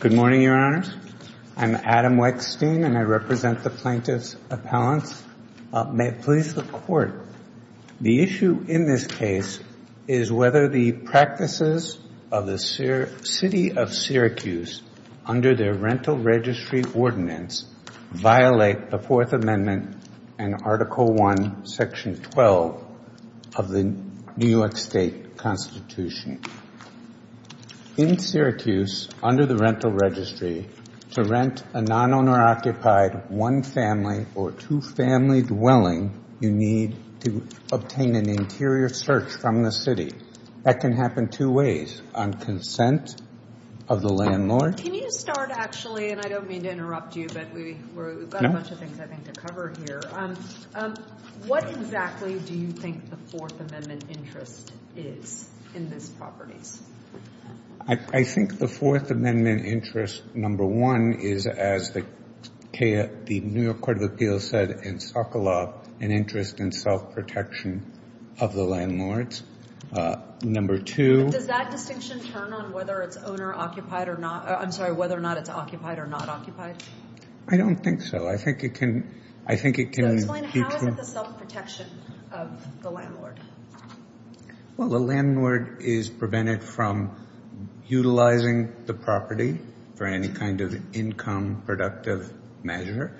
Good morning, Your Honors. I'm Adam Wechstein, and I represent the Plaintiffs' Appellants. May it please the Court, the issue in this case is whether the practices of the City of Syracuse under their Rental Registry Ordinance violate the Fourth Amendment and Article 1, Section 12 of the New York State Constitution. In Syracuse, under the Rental Registry, to rent a non-owner-occupied one-family or two-family dwelling, you need to obtain an interior search from the City. That can happen two ways. On consent of the landlord... Can you start, actually, and I don't mean to interrupt you, but we've got a bunch of things, I think, to cover here. What exactly do you think the Fourth Amendment interest is in this property? I think the Fourth Amendment interest, number one, is as the New York Court of Appeals said in Sokolov, an interest in self-protection of the landlords. Number two... Does that distinction turn on whether it's owner-occupied or not? I'm sorry, whether or not it's occupied or not occupied? I don't think so. I think it can... Explain how is it the self-protection of the landlord? Well, the landlord is prevented from utilizing the property for any kind of income-productive measure.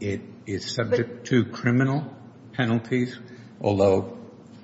It is subject to criminal penalties, although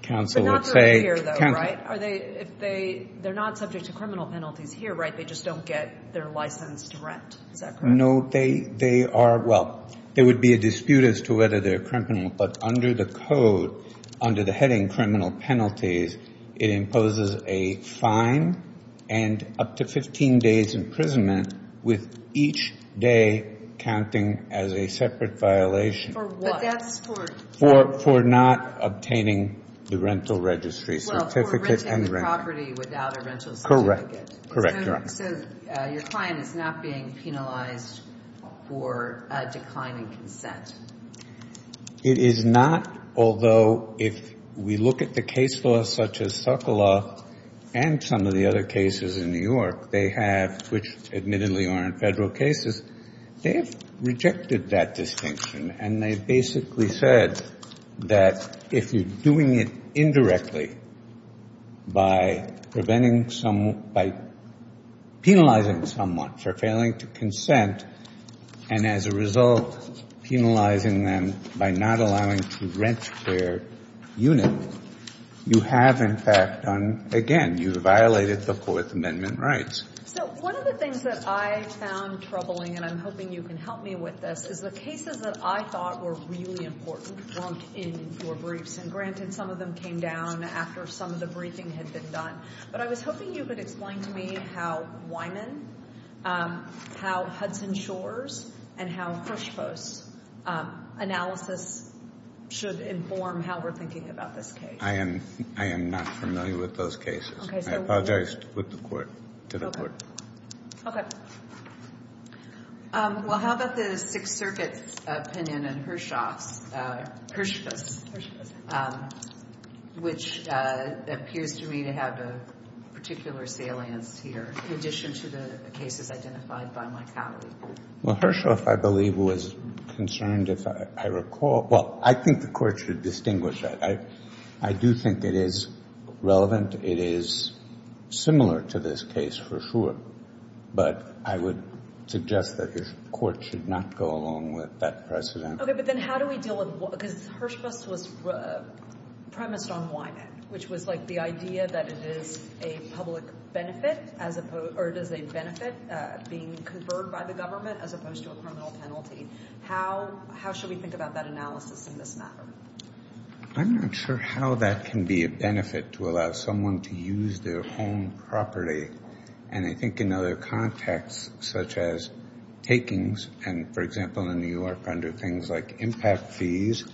counsel would say... But not those here, though, right? They're not subject to criminal penalties here, right? They just don't get their license to rent. Is that correct? No, they are... Well, there would be a dispute as to whether they're criminal, but under the code, under the heading criminal penalties, it imposes a fine and up to 15 days' imprisonment with each day counting as a separate violation. For what? But that's for... For not obtaining the rental registry certificate and rent. Well, for renting the property without a rental registry certificate. Correct. Correct, Your Honor. So your client is not being penalized for declining consent? It is not, although if we look at the case laws such as Succola and some of the other cases in New York, they have, which admittedly are in federal cases, they've rejected that distinction and they basically said that if you're doing it indirectly by preventing someone, by penalizing someone for failing to consent, and as a result, penalizing them by not allowing to rent their unit, you have in fact done, again, you've violated the Fourth Amendment rights. So one of the things that I found troubling, and I'm hoping you can help me with this, is the cases that I thought were really important weren't in your briefs. And granted, some of them came down after some of the briefing had been done, but I was hoping you could explain to me how Wyman, how Hudson Shores, and how Hirschfuss analysis should inform how we're thinking about this case. I am not familiar with those cases. I apologize to the Court. Okay. Okay. Well, how about the Sixth Circuit's opinion on Hirschfuss, which appears to me to have a particular salience here, in addition to the cases identified by my colleague? Well, Hirschfuss, I believe, was concerned if I recall, well, I think the Court should distinguish that. I do think it is relevant. It is similar to this case, for sure. But I would suggest that the Court should not go along with that precedent. Okay. But then how do we deal with, because Hirschfuss was premised on Wyman, which was, like, the idea that it is a public benefit, as opposed, or it is a benefit being conferred by the government, as opposed to a criminal penalty. How should we think about that analysis in this matter? I'm not sure how that can be a benefit, to allow someone to use their home property. And I think in other contexts, such as takings, and, for example, in New York, under things like impact fees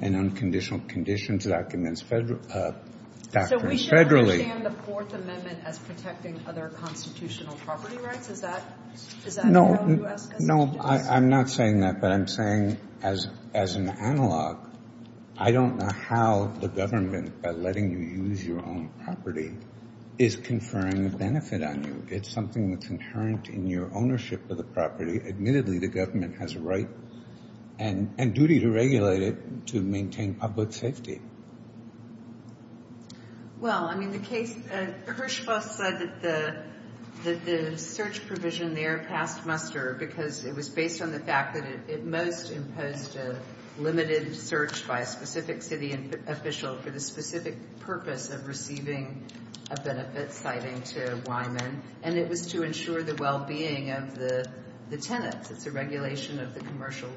and unconditional conditions, documents federal, documents federally. So we should understand the Fourth Amendment as protecting other constitutional property rights? Is that how you ask us to do this? No. No. I'm not saying that. But I'm saying, as an analogue, I don't know how the government, by letting you use your own property, is conferring a benefit on you. It's something that's inherent in your ownership of the property. Admittedly, the government has a right and duty to regulate it to maintain public safety. Well, I mean, the case, Hirschfuss said that the search provision there passed muster because it was based on the fact that it most imposed a limited search by a specific city official for the specific purpose of receiving a benefit citing to Wyman. And it was to ensure the well-being of the tenants. It's a regulation of the commercial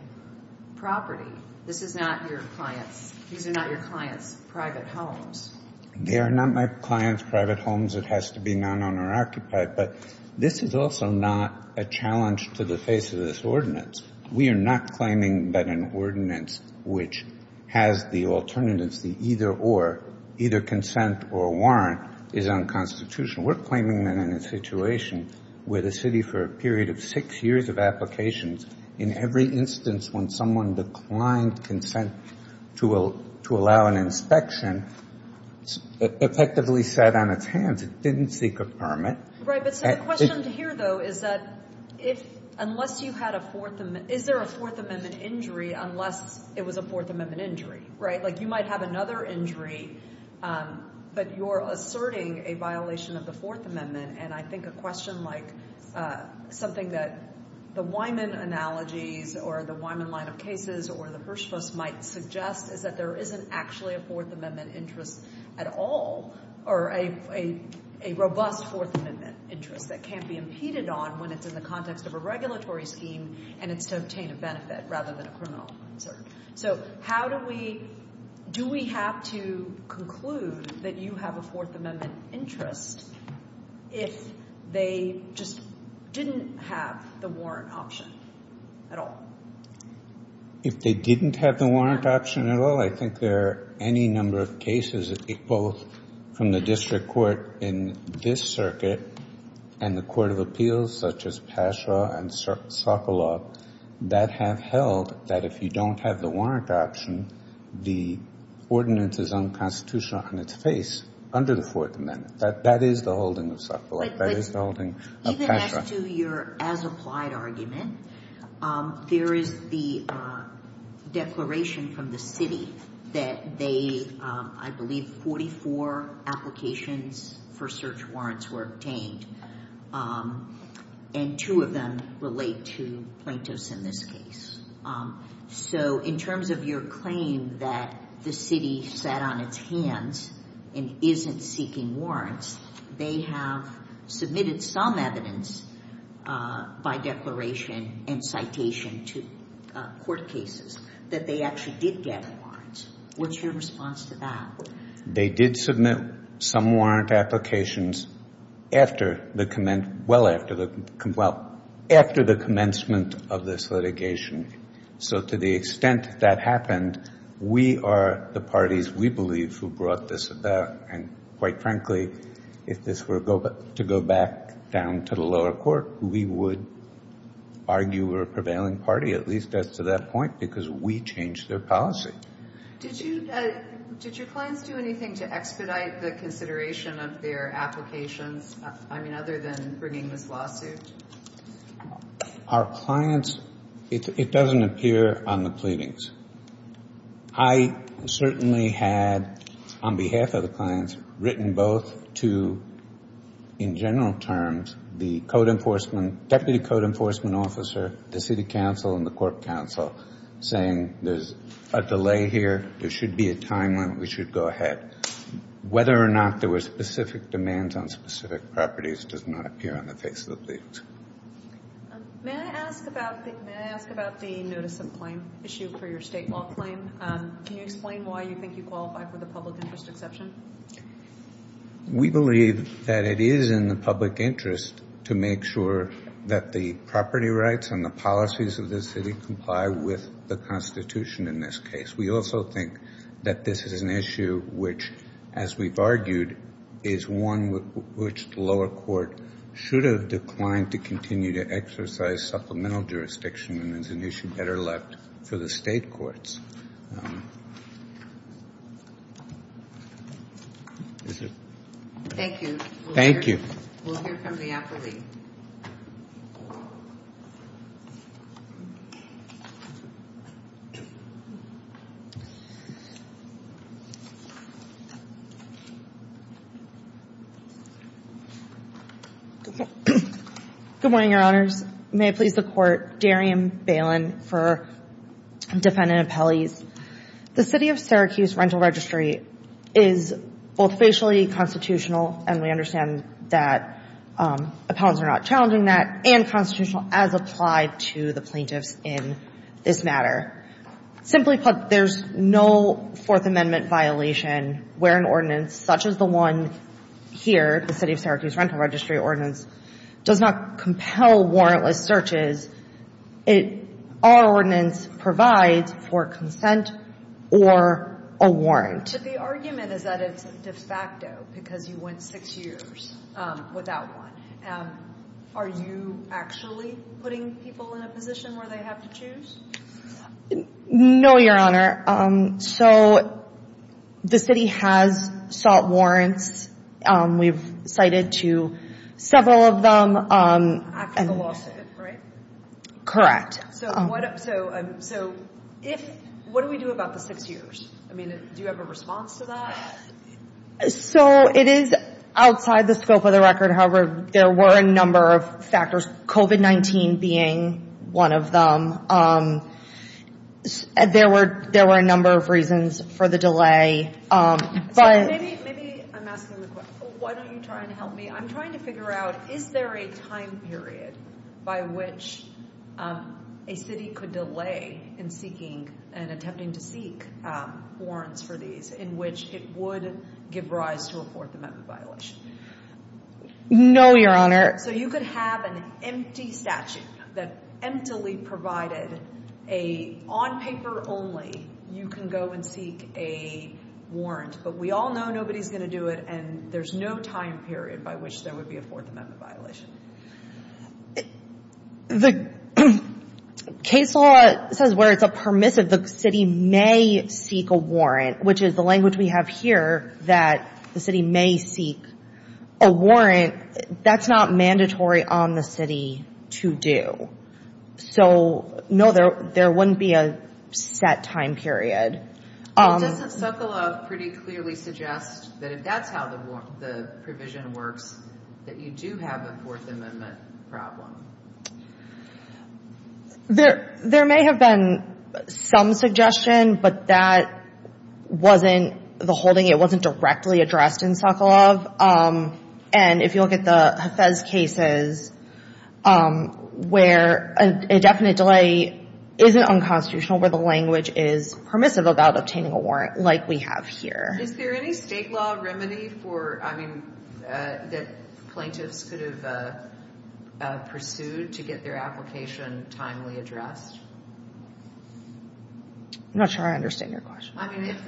property. These are not your clients' private homes. They are not my clients' private homes. It has to be non-owner-occupied. But this is also not a challenge to the face of this ordinance. We are not claiming that an which has the alternatives, the either-or, either consent or warrant, is unconstitutional. We're claiming that in a situation where the city, for a period of six years of applications, in every instance when someone declined consent to allow an inspection, effectively sat on its hands. It didn't seek a permit. Right. But so the question here, though, is that unless you had a Fourth Amendment, is there a Fourth Amendment injury unless it was a Fourth Amendment injury, right? Like you might have another injury, but you're asserting a violation of the Fourth Amendment. And I think a question like something that the Wyman analogies or the Wyman line of cases or the Hirschfuss might suggest is that there isn't actually a Fourth Amendment interest at all or a robust Fourth Amendment interest that can't be impeded on when it's in the context of a regulatory scheme and it's to obtain a benefit rather than a criminal concern. So how do we, do we have to conclude that you have a Fourth Amendment interest if they just didn't have the warrant option at all? If they didn't have the warrant option at all, I think there are any number of cases equal from the district court in this circuit and the court of appeals such as Pasha and Sokoloff that have held that if you don't have the warrant option, the ordinance is unconstitutional on its face under the Fourth Amendment. That is the holding of Sokoloff. That is the holding of Pasha. Even as to your as-applied argument, there is the declaration from the city that they, I believe, 44 applications for search warrants were obtained and two of them relate to plaintiffs in this case. So in terms of your claim that the city sat on its hands and isn't seeking warrants, they have submitted some evidence by declaration and citation to court cases that they actually did get warrants. What's your response to that? They did submit some warrant applications after the, well after the, well, after the commencement of this litigation. So to the extent that happened, we are the parties, we believe, who brought this about. And quite frankly, if this were to go back down to the lower court, we would argue we're a prevailing party, at least as to that point, because we changed their policy. Did you, did your clients do anything to expedite the consideration of their applications? I mean, other than bringing this lawsuit? Our clients, it doesn't appear on the pleadings. I certainly had, on behalf of the clients, written both to, in general terms, the code enforcement, deputy code enforcement officer, the city council, and the court council, saying there's a delay here, there should be a time limit, we should go ahead. Whether or not there were specific demands on specific properties does not appear on the face of the pleadings. May I ask about the notice of claim issue for your state law claim? Can you explain why you think you qualify for the public interest exception? We believe that it is in the public interest to make sure that the property rights and the policies of the city comply with the Constitution in this case. We also think that this is an issue which, as we've argued, is one which the lower court should have declined to continue to exercise supplemental jurisdiction and is an issue better left for the state courts. Thank you. Thank you. We'll hear from the applicant. Good morning, Your Honors. May it please the Court, Darian Bailin for defendant appellate The City of Syracuse Rental Registry is both facially constitutional, and we understand that appellants are not challenging that, and constitutional as applied to the plaintiffs in this matter. Simply put, there's no Fourth Amendment violation where an ordinance such as the one here, the City of Syracuse Rental Registry ordinance, does not compel warrantless searches. Our ordinance provides for consent or a warrant. But the argument is that it's de facto because you went six years without one. Are you actually putting people in a position where they have to choose? No, Your Honor. So the city has sought warrants. We've cited to several of them. Correct. So what do we do about the six years? I mean, do you have a response to that? So it is outside the scope of the record. However, there were a number of factors, COVID-19 being one of them. There were a number of reasons for the Is there a time period by which a city could delay in seeking and attempting to seek warrants for these in which it would give rise to a Fourth Amendment violation? No, Your Honor. So you could have an empty statute that emptily provided a on-paper only you can go and seek a warrant. But we all know nobody's going to do it, and there's no time period by which there would be a Fourth Amendment violation. The case law says where it's a permissive, the city may seek a warrant, which is the language we have here that the city may seek a warrant. That's not mandatory on the city to do. So no, there wouldn't be a set time period. Doesn't Sokolov pretty clearly suggest that if that's how the provision works, that you do have a Fourth Amendment problem? There may have been some suggestion, but that wasn't the holding. It wasn't directly addressed in Sokolov. And if you look at the Hafez cases where a definite delay isn't unconstitutional, where the language is permissive about obtaining a warrant like we have here. Is there any state law remedy for, I mean, that plaintiffs could have pursued to get their application timely addressed? I'm not sure I understand your question. I mean, if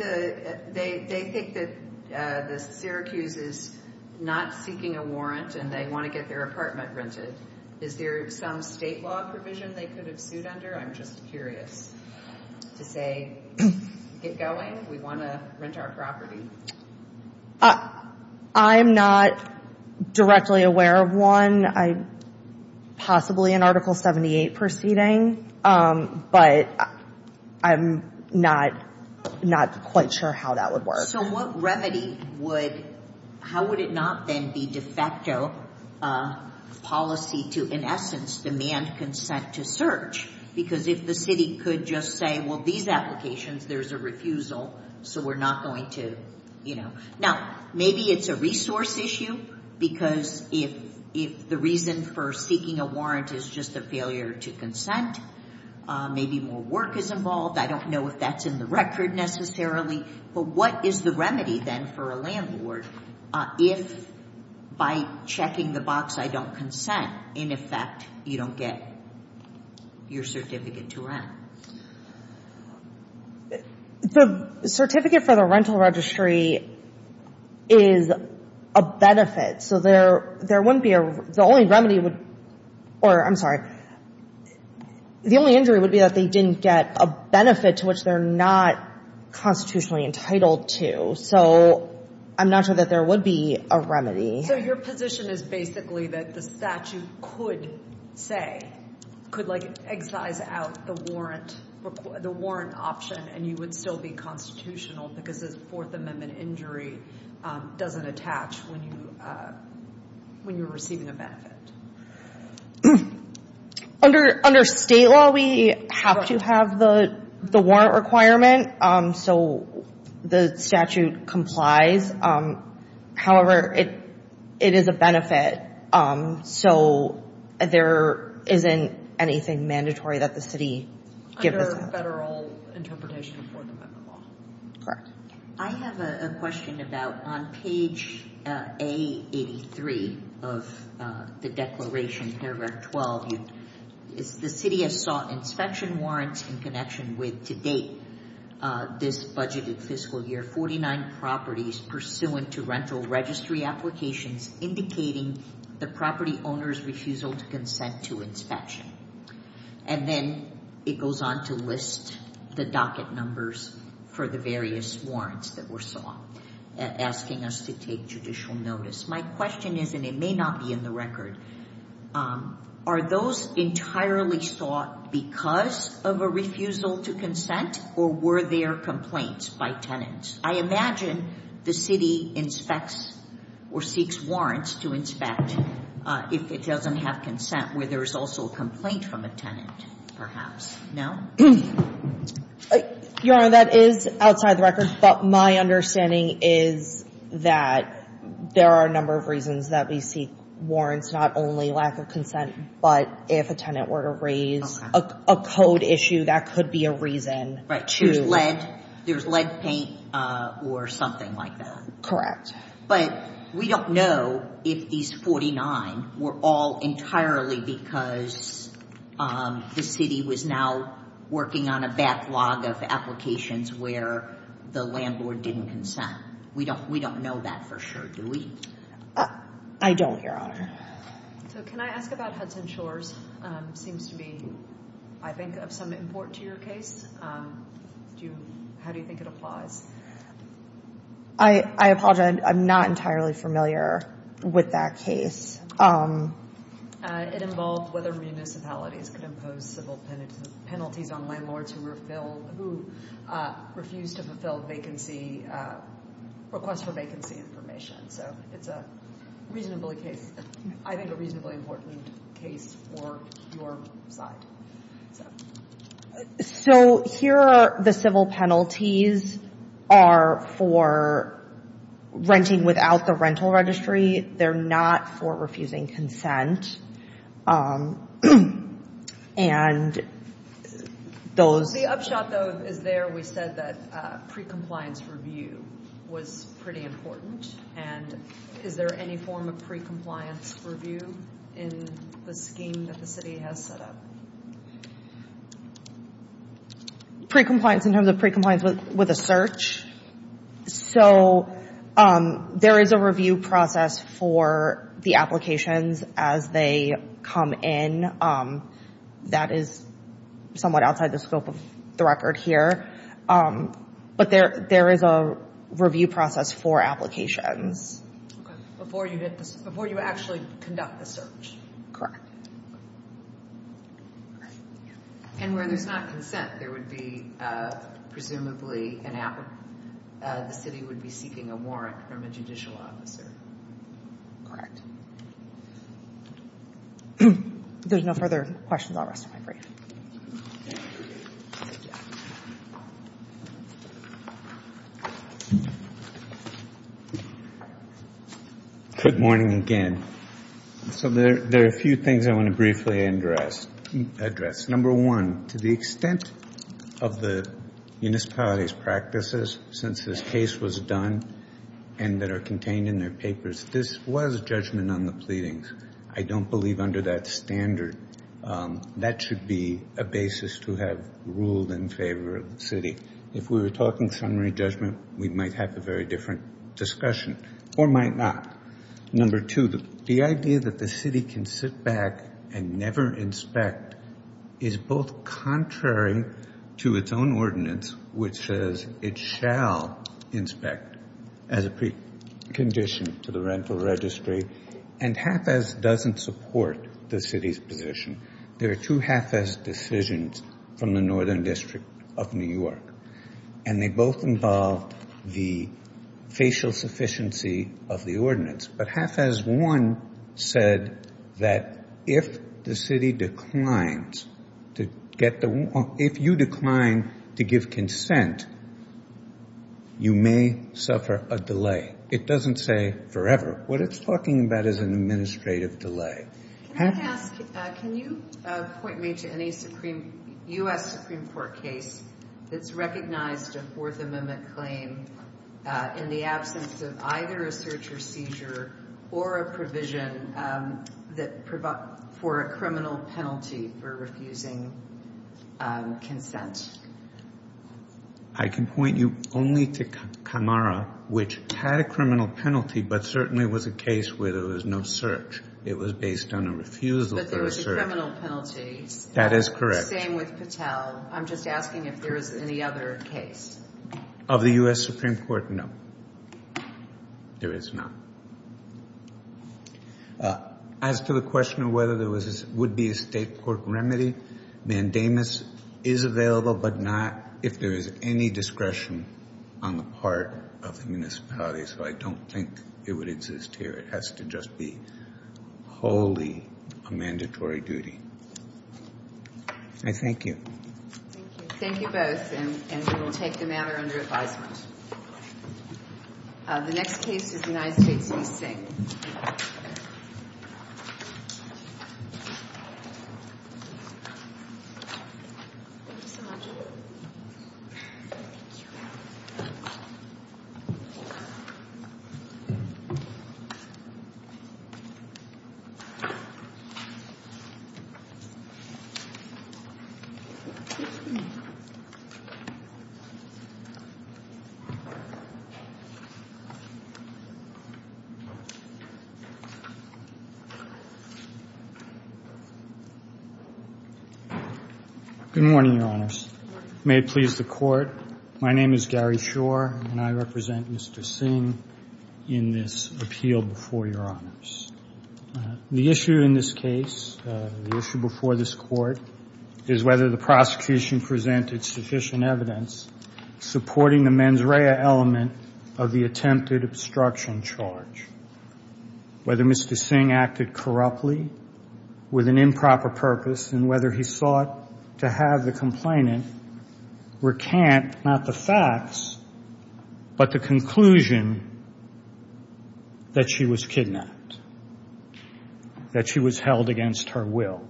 they think that the Syracuse is not seeking a warrant and they want to get their apartment rented, is there some state law provision they could have sued under? I'm just curious to say, get going. We want to rent our property. I'm not directly aware of one. Possibly an Article 78 proceeding, but I'm not quite sure how that would work. So what remedy would, how would it not then be de facto policy to, in essence, demand consent to search? Because if the city could just say, well, these applications, there's a refusal, so we're not going to, you know. Now, maybe it's a resource issue, because if the reason for seeking a warrant is just a failure to consent, maybe more work is involved. I don't know if that's in the record necessarily. But what is the remedy, then, for a landlord if, by checking the box I don't consent, in effect, you don't get your certificate to rent? The certificate for the rental registry is a benefit. So there wouldn't be a, the only remedy would, or I'm sorry, the only injury would be that they didn't get a benefit to which they're not constitutionally entitled to. So I'm not sure that there would be a remedy. So your position is basically that the statute could say, could like excise out the warrant, the warrant option, and you would still be constitutional because this Fourth Amendment injury doesn't attach when you, when you're receiving a benefit. Under, under state law, we have to have the, the warrant requirement. So the statute complies. However, it, it is a benefit. So there isn't anything mandatory that the city gives us. Under federal interpretation of Fourth Amendment law. Correct. I have a question about on page A83 of the Dexamethasone Act, paragraph 12, the city has sought inspection warrants in connection with, to date, this budgeted fiscal year 49 properties pursuant to rental registry applications indicating the property owner's refusal to consent to inspection. And then it goes on to list the docket numbers for the various warrants that were sought, asking us to take judicial notice. My question is, and it may not be in the record, are those entirely sought because of a refusal to consent or were there complaints by tenants? I imagine the city inspects or seeks warrants to inspect if it doesn't have consent where there is also a complaint from a tenant, perhaps. No? Your Honor, that is outside the record. But my understanding is that there are a number of reasons that we seek warrants, not only lack of consent, but if a tenant were to raise a code issue, that could be a reason. Right. There's lead paint or something like that. Correct. But we don't know if these 49 were all entirely because the city was now working on a backlog of applications where the landlord didn't consent. We don't know that for sure, do we? I don't, Your Honor. So can I ask about Hudson Shores? It seems to be, I think, of some import to your case. How do you think it applies? I apologize. I'm not entirely familiar with that case. It involved whether municipalities could impose civil penalties on landlords who refused to fill vacancy, request for vacancy information. So it's a reasonably case, I think a reasonably important case for your side. So here are the civil penalties are for renting without the rental registry. They're not for refusing consent. The upshot, though, is there, we said that pre-compliance review was pretty important. And is there any form of pre-compliance review in the scheme that the city has set up? Pre-compliance in terms of pre-compliance with a search. So there is a review process for the applications as they come in. That is somewhat outside the scope of the record here. But there is a review process for applications. Before you actually conduct the search. Correct. And where there's not consent, there would be, presumably, the city would be seeking a warrant from a judicial officer. Correct. There's no further questions. I'll rest of my brief. Good morning again. So there are a few things I want to briefly address. Number one, to the extent of the municipality's practices since this case was done and that are contained in their papers, this was judgment on the pleadings. I don't believe under that standard that should be a basis to have ruled in favor of the city. If we were talking summary judgment, we might have a very different discussion or might not. Number two, the idea that the city can sit back and never inspect is both contrary to its own ordinance, which says it shall inspect as a precondition to the rental registry. And HFAS doesn't support the city's position. There are two HFAS decisions from the Northern District of New York. And they both involve the facial sufficiency of the ordinance. But HFAS 1 said that if the city declines, if you decline to give consent, you may suffer a delay. It doesn't say forever. What it's talking about is an administrative delay. Can you point me to any U.S. Supreme Court case that's recognized a Fourth Amendment claim in the absence of either a search or seizure or a provision for a criminal penalty for refusing consent? I can point you only to Camara, which had a criminal penalty but certainly was a case where there was no search. It was based on a refusal for a search. But there was a criminal penalty. That is correct. Same with Patel. I'm just asking if there is any other case. Of the U.S. Supreme Court, no. There is not. As to the question of whether there would be a State Court remedy, mandamus is available, but not if there is any discretion on the part of the municipality. So I don't think it would exist here. It has to just be wholly a mandatory duty. I thank you. Thank you. Thank you both, and we will take the matter under advisement. The next case is the United States v. Singh. Good morning, Your Honors. May it please the Court, my name is Gary Shore, and I represent Mr. Singh in this appeal before Your Honors. The issue in this case, the issue before this Court, is whether the prosecution presented sufficient evidence supporting the mens rea element of the attempted obstruction charge, whether Mr. Singh acted corruptly with an improper purpose, and to have the complainant recant not the facts, but the conclusion that she was kidnapped, that she was held against her will.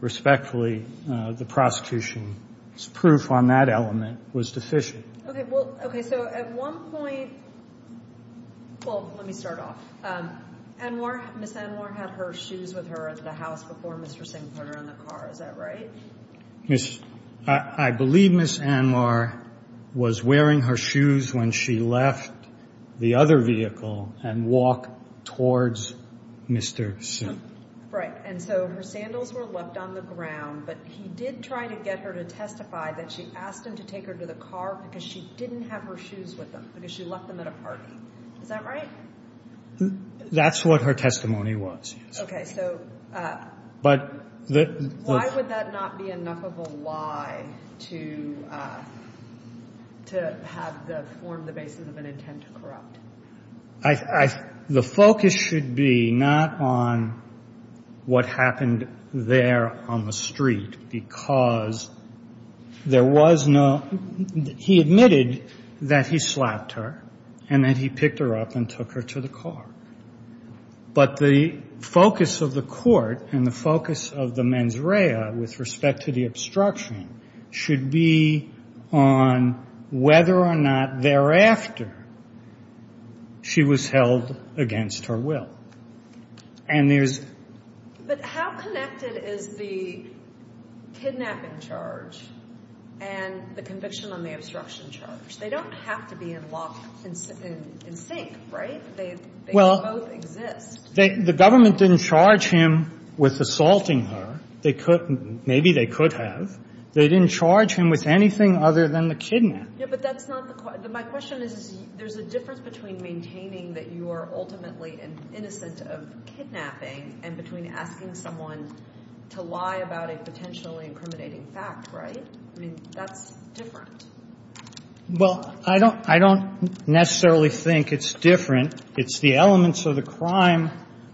Respectfully, the prosecution's proof on that element was deficient. Okay, so at one point, well, let me start off. Ms. Anwar had her shoes with her at a house before Mr. Singh put her in the car, is that right? I believe Ms. Anwar was wearing her shoes when she left the other vehicle and walked towards Mr. Singh. Right, and so her sandals were left on the ground, but he did try to get her to testify that she asked him to take her to the car because she didn't have her shoes with them, because she left them at a party. Is that right? That's what her testimony was, yes. Okay, so why would that not be enough of a lie to have the form, the basis of an intent to corrupt? The focus should be not on what happened there on the street, because there was no, he admitted that he slapped her and that he picked her up and took her to the car, but the focus of the court and the focus of the mens rea with respect to the obstruction should be on whether or not thereafter she was held against her will, and there's. But how connected is the kidnapping charge and the conviction on the obstruction charge? They don't have to be in lock, in sync, right? They both exist. The government didn't charge him with assaulting her. They could, maybe they could have. They didn't charge him with anything other than the kidnapping. Yeah, but that's not the, my question is there's a difference between maintaining that you are ultimately innocent of kidnapping and between asking someone to lie about a potentially incriminating fact, right? I mean, that's different. Well, I don't necessarily think it's different. It's the elements of the crime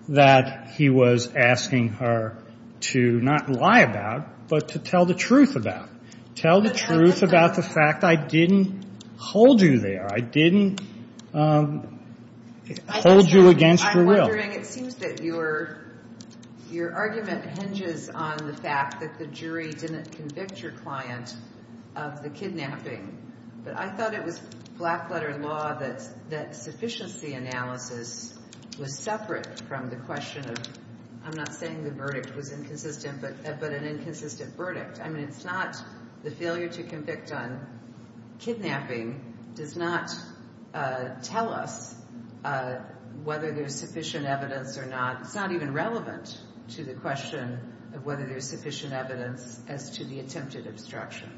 that he was asking her to not lie about, but to tell the truth about. Tell the truth about the fact I didn't hold you there. I didn't hold you against your will. I'm wondering, it seems that your argument hinges on the fact that the jury didn't convict your client of the kidnapping, but I thought it was black letter law that sufficiency analysis was separate from the question of, I'm not saying the verdict was inconsistent, but an inconsistent verdict. I mean, it's not the failure to convict on kidnapping does not tell us whether there's sufficient evidence or not. It's not even relevant to the question of whether there's sufficient evidence as to the attempted obstruction.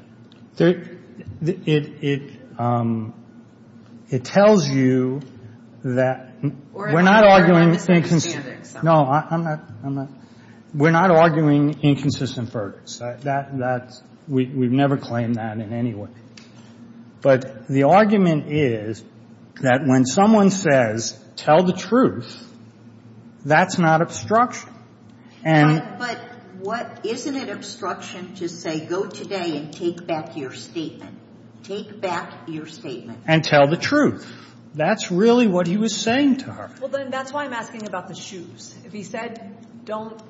It tells you that we're not arguing. No, I'm not. We're not arguing inconsistent verdicts. We've never claimed that in any way. But the argument is that when someone says, tell the truth, that's not obstruction. But isn't it obstruction to say go today and take back your statement? Take back your statement. And tell the truth. That's really what he was saying to her. Well, then that's why I'm asking about the shoes. If he said don't tell